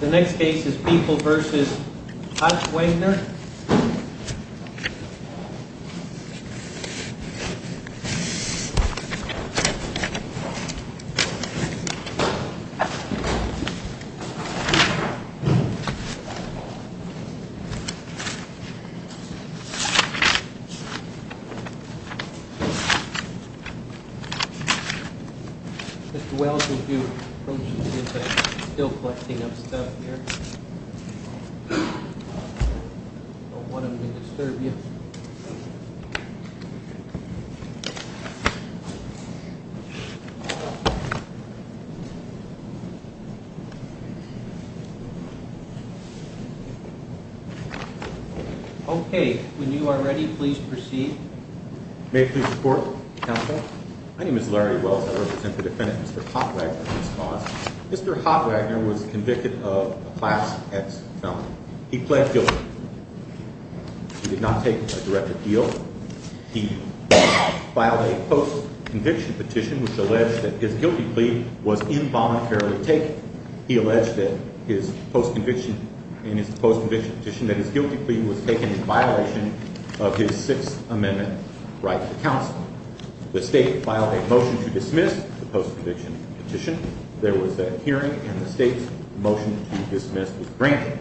The next case is People v. Hotwagner Mr. Wells will do. Okay, when you are ready, please proceed. May I please report, counsel? My name is Larry Wells. I represent the defendant, Mr. Hotwagner, in this cause. Mr. Hotwagner was convicted of a Class X felony. He pled guilty. He did not take a direct appeal. He filed a post-conviction petition which alleged that his guilty plea was involuntarily taken. He alleged in his post-conviction petition that his guilty plea was taken in violation of his Sixth Amendment right to counsel. The state filed a motion to dismiss the post-conviction petition. There was a hearing and the state's motion to dismiss was granted.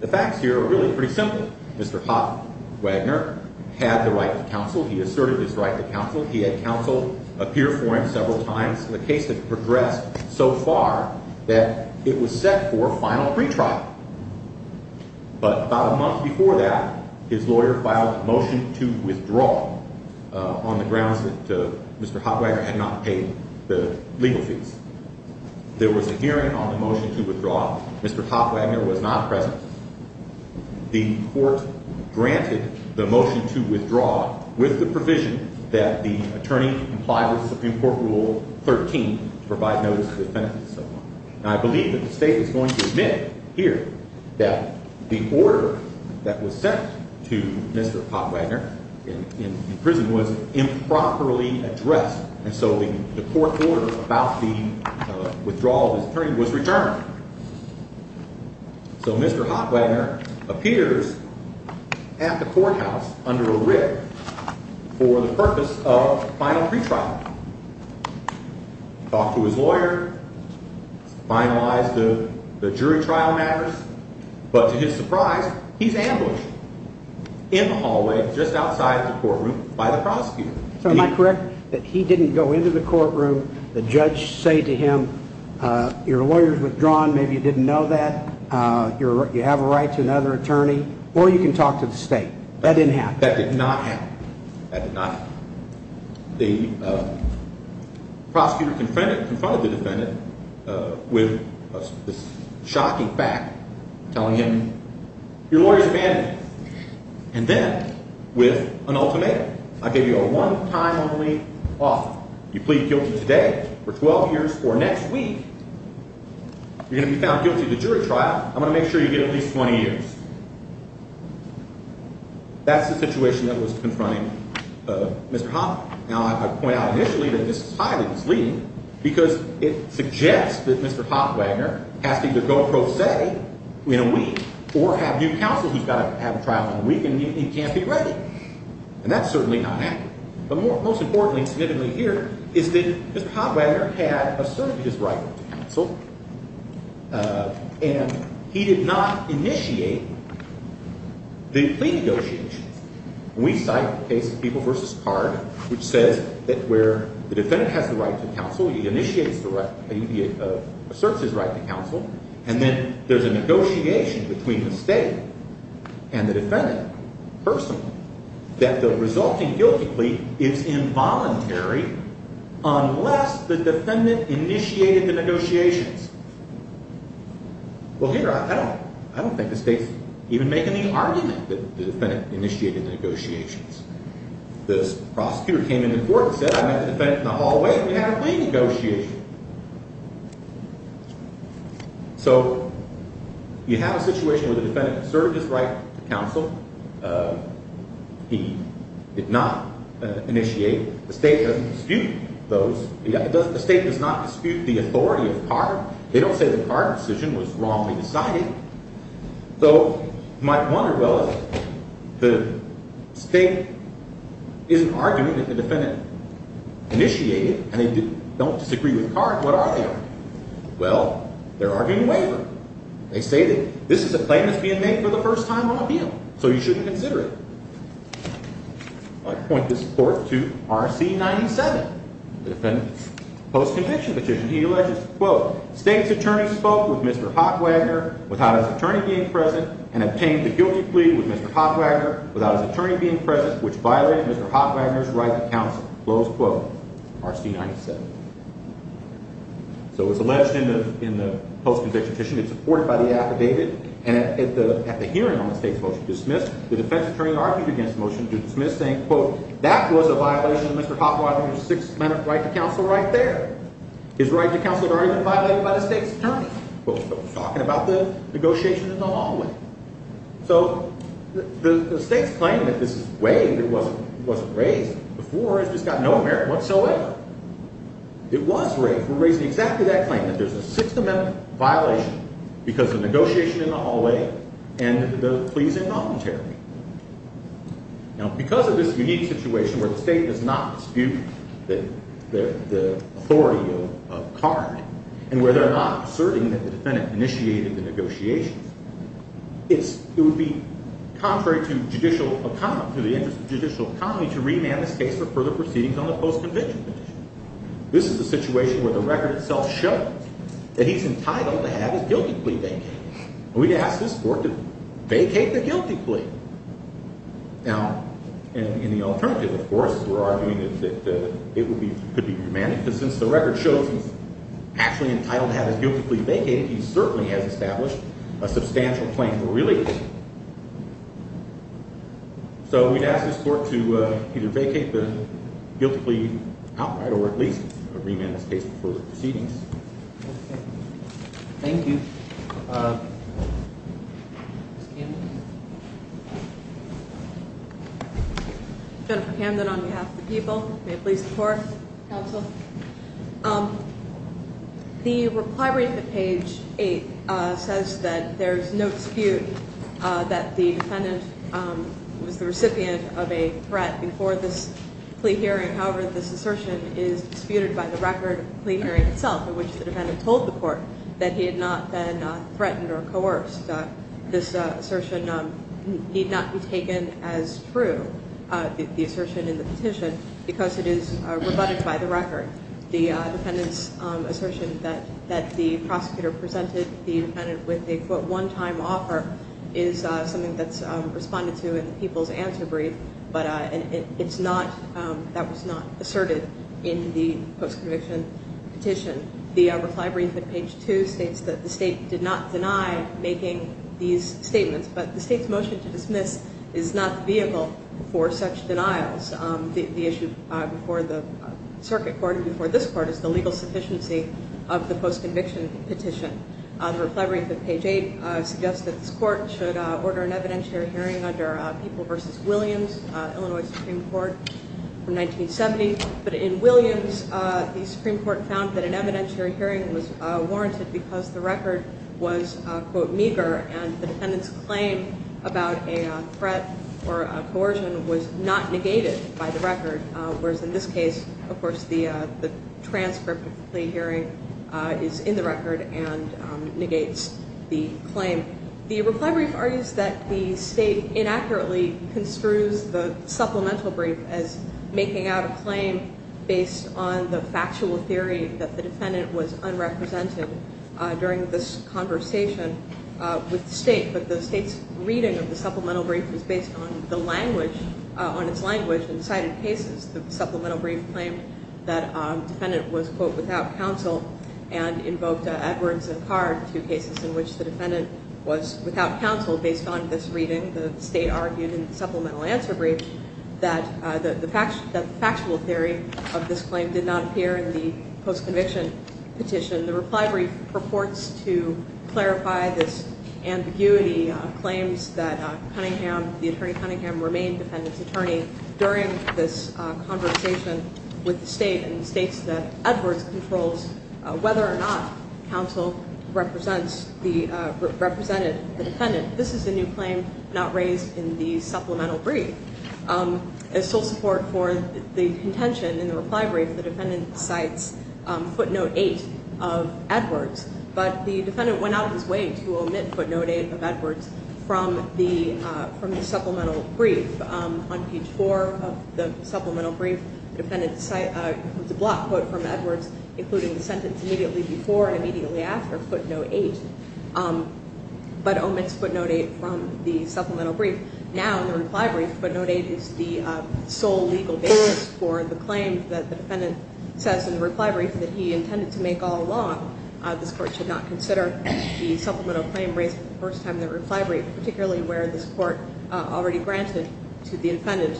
The facts here are really pretty simple. Mr. Hotwagner had the right to counsel. He asserted his right to counsel. He had counsel appear for him several times. The case had progressed so far that it was set for a final retrial. But about a month before that, his lawyer filed a motion to withdraw on the grounds that Mr. Hotwagner had not paid the legal fees. There was a hearing on the motion to withdraw. Mr. Hotwagner was not present. The court granted the motion to withdraw with the provision that the attorney comply with Supreme Court Rule 13 to provide notice of offense and so on. And I believe that the state is going to admit here that the order that was sent to Mr. Hotwagner in prison was improperly addressed. And so the court order about the withdrawal of his attorney was returned. So Mr. Hotwagner appears at the courthouse under a rib for the purpose of final retrial. He talked to his lawyer, finalized the jury trial matters. But to his surprise, he's ambushed in the hallway just outside the courtroom by the prosecutor. So am I correct that he didn't go into the courtroom? The judge say to him, your lawyer's withdrawn. Maybe you didn't know that. You have a right to another attorney. Or you can talk to the state. That didn't happen. That did not happen. That did not happen. The prosecutor confronted the defendant with this shocking fact, telling him, your lawyer's abandoned you. And then with an ultimatum. I gave you a one-time only offer. You plead guilty today for 12 years or next week, you're going to be found guilty of the jury trial. I'm going to make sure you get at least 20 years. That's the situation that was confronting Mr. Hotwagner. Now, I point out initially that this is highly misleading because it suggests that Mr. Hotwagner has to either go pro se in a week or have new counsel who's got to have a trial in a week and he can't be ready. And that's certainly not happening. But most importantly, significantly here, is that Mr. Hotwagner had asserted his right to counsel. And he did not initiate the plea negotiations. We cite the case of People v. Card, which says that where the defendant has the right to counsel, he asserts his right to counsel. And then there's a negotiation between the state and the defendant, personally, that the resulting guilty plea is involuntary unless the defendant initiated the negotiations. Well, here, I don't think the state's even making the argument that the defendant initiated the negotiations. The prosecutor came into court and said, I met the defendant in the hallway and we had a plea negotiation. So you have a situation where the defendant asserted his right to counsel. He did not initiate. The state doesn't dispute those. The state does not dispute the authority of card. They don't say the card decision was wrongly decided. So you might wonder, well, if the state isn't arguing that the defendant initiated and they don't disagree with card, what are they arguing? Well, they're arguing waiver. They say that this is a claim that's being made for the first time on appeal, so you shouldn't consider it. I point this forth to RC 97, the defendant's post-conviction petition. He alleges, quote, State's attorney spoke with Mr. Hotwagoner without his attorney being present and obtained the guilty plea with Mr. Hotwagoner without his attorney being present, which violated Mr. Hotwagoner's right to counsel. Close quote. RC 97. So it's alleged in the post-conviction petition it's supported by the affidavit. And at the hearing on the state's motion to dismiss, the defense attorney argued against the motion to dismiss, saying, quote, that was a violation of Mr. Hotwagoner's six-minute right to counsel right there. His right to counsel had already been violated by the state's attorney. But we're talking about the negotiation in the hallway. So the state's claim that this is waived, it wasn't raised before, has just got no merit whatsoever. It was raised. We're raising exactly that claim, that there's a six-minute violation because of negotiation in the hallway and the pleas involuntary. Now, because of this unique situation where the state does not dispute the authority of card and where they're not asserting that the defendant initiated the negotiations, it would be contrary to the interest of judicial economy to remand this case for further proceedings on the post-conviction petition. This is a situation where the record itself shows that he's entitled to have his guilty plea vacated. We'd ask this court to vacate the guilty plea. Now, in the alternative, of course, we're arguing that it could be remanded because since the record shows he's actually entitled to have his guilty plea vacated, he certainly has established a substantial claim for release. So we'd ask this court to either vacate the guilty plea outright or at least remand this case for further proceedings. Thank you. Jennifer Camden on behalf of the people. May it please the court? Counsel. The reply read at page 8 says that there's no dispute that the defendant was the recipient of a threat before this plea hearing. However, this assertion is disputed by the record of the plea hearing itself in which the defendant told the court that he had not been threatened or coerced. This assertion need not be taken as true, the assertion in the petition, because it is rebutted by the record. The defendant's assertion that the prosecutor presented the defendant with a, quote, one-time offer is something that's responded to in the people's answer brief, but it's not, that was not asserted in the post-conviction petition. The reply brief at page 2 states that the state did not deny making these statements, but the state's motion to dismiss is not the vehicle for such denials. The issue before the circuit court and before this court is the legal sufficiency of the post-conviction petition. The reply brief at page 8 suggests that this court should order an evidentiary hearing under People v. Williams, Illinois Supreme Court, from 1970. But in Williams, the Supreme Court found that an evidentiary hearing was warranted because the record was, quote, meager and the defendant's claim about a threat or coercion was not negated by the record. Whereas in this case, of course, the transcript of the plea hearing is in the record and negates the claim. The reply brief argues that the state inaccurately construes the supplemental brief as making out a claim based on the factual theory that the defendant was unrepresented during this conversation with the state. But the state's reading of the supplemental brief was based on the language, on its language in cited cases. The supplemental brief claimed that the defendant was, quote, without counsel and invoked Edwards and Carr, two cases in which the defendant was without counsel based on this reading. The state argued in the supplemental answer brief that the factual theory of this claim did not appear in the post-conviction petition. The reply brief purports to clarify this ambiguity of claims that Cunningham, the attorney Cunningham, remained defendant's attorney during this conversation with the state and states that Edwards controls whether or not counsel represents the, represented the defendant. This is a new claim not raised in the supplemental brief. As sole support for the contention in the reply brief, the defendant cites footnote eight of Edwards. But the defendant went out of his way to omit footnote eight of Edwards from the supplemental brief. On page four of the supplemental brief, the defendant cites a block quote from Edwards, including the sentence immediately before and immediately after footnote eight, but omits footnote eight from the supplemental brief. Now in the reply brief, footnote eight is the sole legal basis for the claim that the defendant says in the reply brief that he intended to make all along. This court should not consider the supplemental claim raised for the first time in the reply brief, particularly where this court already granted to the defendant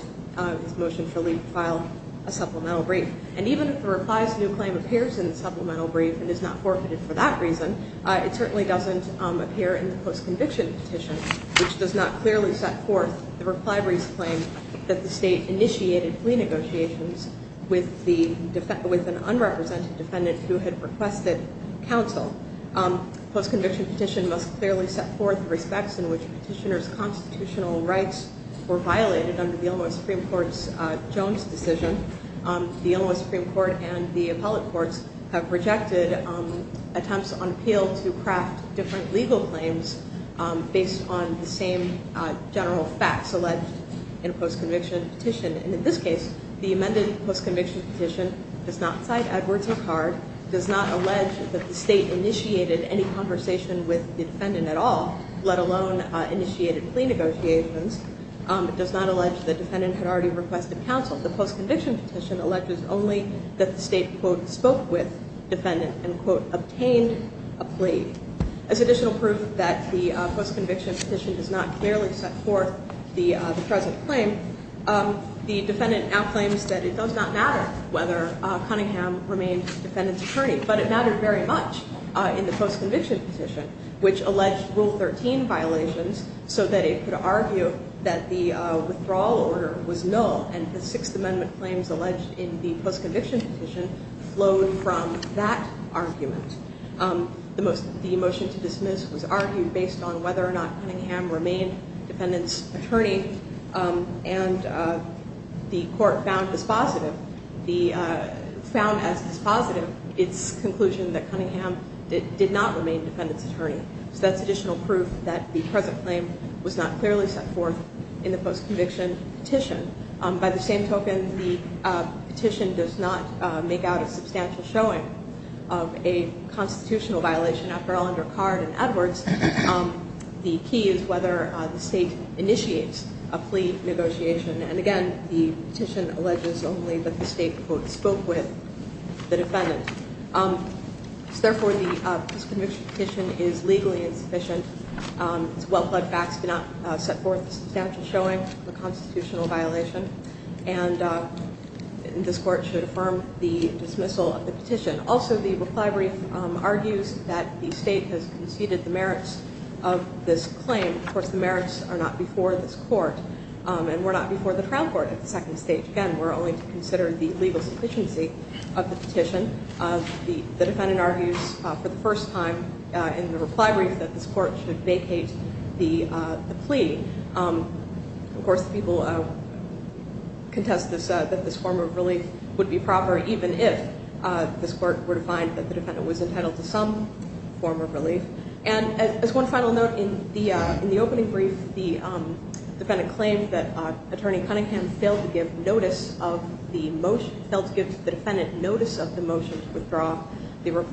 his motion for leave to file a supplemental brief. And even if the reply's new claim appears in the supplemental brief and is not forfeited for that reason, it certainly doesn't appear in the post-conviction petition, which does not clearly set forth the reply brief's claim that the state initiated plea negotiations with the, with an unrepresented defendant who had requested counsel. Post-conviction petition must clearly set forth respects in which petitioner's constitutional rights were violated under the Illinois Supreme Court's Jones decision. The Illinois Supreme Court and the appellate courts have rejected attempts on appeal to craft different legal claims based on the same general facts alleged in a post-conviction petition. And in this case, the amended post-conviction petition does not cite Edwards and Card, does not allege that the state initiated any conversation with the defendant at all, let alone initiated plea negotiations. It does not allege the defendant had already requested counsel. The post-conviction petition alleges only that the state, quote, spoke with defendant and, quote, obtained a plea. As additional proof that the post-conviction petition does not clearly set forth the present claim, the defendant now claims that it does not matter whether Cunningham remained defendant's attorney. But it mattered very much in the post-conviction petition, which alleged Rule 13 violations so that it could argue that the withdrawal order was null. And the Sixth Amendment claims alleged in the post-conviction petition flowed from that argument. The motion to dismiss was argued based on whether or not Cunningham remained defendant's attorney. And the court found as positive its conclusion that Cunningham did not remain defendant's attorney. So that's additional proof that the present claim was not clearly set forth in the post-conviction petition. By the same token, the petition does not make out a substantial showing of a constitutional violation. After all, under Card and Edwards, the key is whether the state initiates a plea negotiation. And again, the petition alleges only that the state, quote, spoke with the defendant. So therefore, the post-conviction petition is legally insufficient. It's well-plugged facts do not set forth a substantial showing of a constitutional violation. And this court should affirm the dismissal of the petition. Also, the reply brief argues that the state has conceded the merits of this claim. Of course, the merits are not before this court. And we're not before the trial court at the second stage. Again, we're only to consider the legal sufficiency of the petition. The defendant argues for the first time in the reply brief that this court should vacate the plea. Of course, the people contest that this form of relief would be proper, even if this court were to find that the defendant was entitled to some form of relief. And as one final note, in the opening brief, the defendant claimed that Attorney Cunningham failed to give notice of the motion, failed to give the defendant notice of the motion to withdraw. The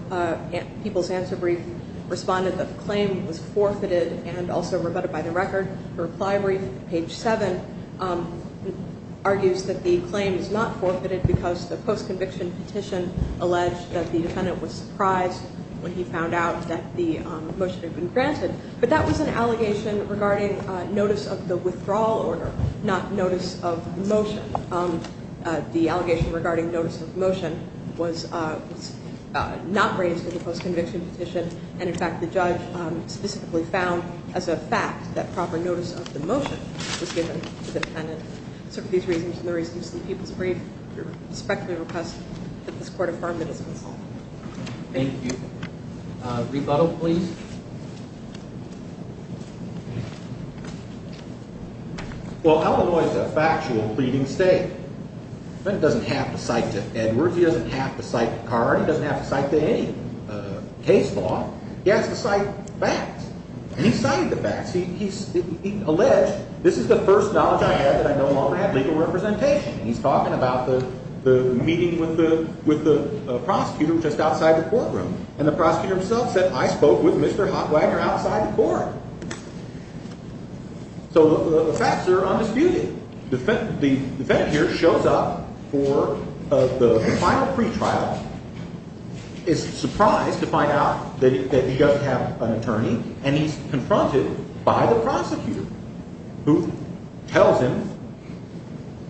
people's answer brief responded that the claim was forfeited and also rebutted by the record. The reply brief, page 7, argues that the claim is not forfeited because the post-conviction petition alleged that the defendant was surprised when he found out that the motion had been granted. But that was an allegation regarding notice of the withdrawal order, not notice of motion. The allegation regarding notice of motion was not raised in the post-conviction petition. And, in fact, the judge specifically found as a fact that proper notice of the motion was given to the defendant. So for these reasons and the reasons in the people's brief, we respectfully request that this court affirm that it's been solved. Thank you. Rebuttal, please. Well, Illinois is a factual pleading state. The defendant doesn't have to cite to Edwards. He doesn't have to cite to Card. He doesn't have to cite to any case law. He has to cite facts, and he cited the facts. He alleged, this is the first knowledge I have that I no longer have legal representation. He's talking about the meeting with the prosecutor just outside the courtroom. And the prosecutor himself said, I spoke with Mr. Hotwagner outside the court. So the facts are undisputed. The defendant here shows up for the final pretrial, is surprised to find out that he doesn't have an attorney, and he's confronted by the prosecutor who tells him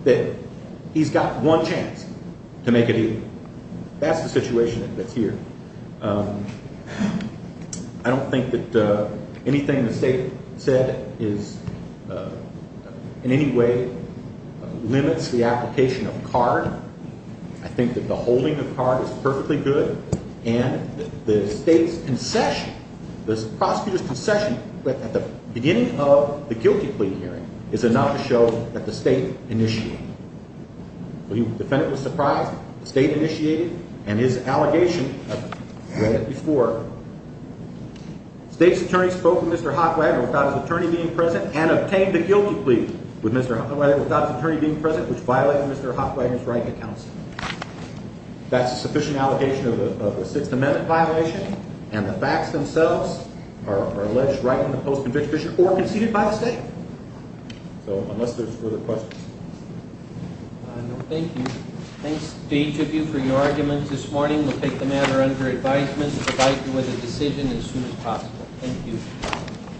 that he's got one chance to make a deal. That's the situation that's here. I don't think that anything the state said is in any way limits the application of Card. I think that the holding of Card is perfectly good, and the state's concession, the prosecutor's concession, at the beginning of the guilty plea hearing, is enough to show that the state initiated it. The defendant was surprised. The state initiated it, and his allegation, I've read it before, the state's attorney spoke with Mr. Hotwagner without his attorney being present and obtained the guilty plea without his attorney being present, which violated Mr. Hotwagner's right to counsel. That's a sufficient allegation of a Sixth Amendment violation, and the facts themselves are alleged right in the post-conviction or conceded by the state. So unless there's further questions. Thank you. Thanks to each of you for your arguments this morning. We'll take the matter under advisement to provide you with a decision as soon as possible. Thank you.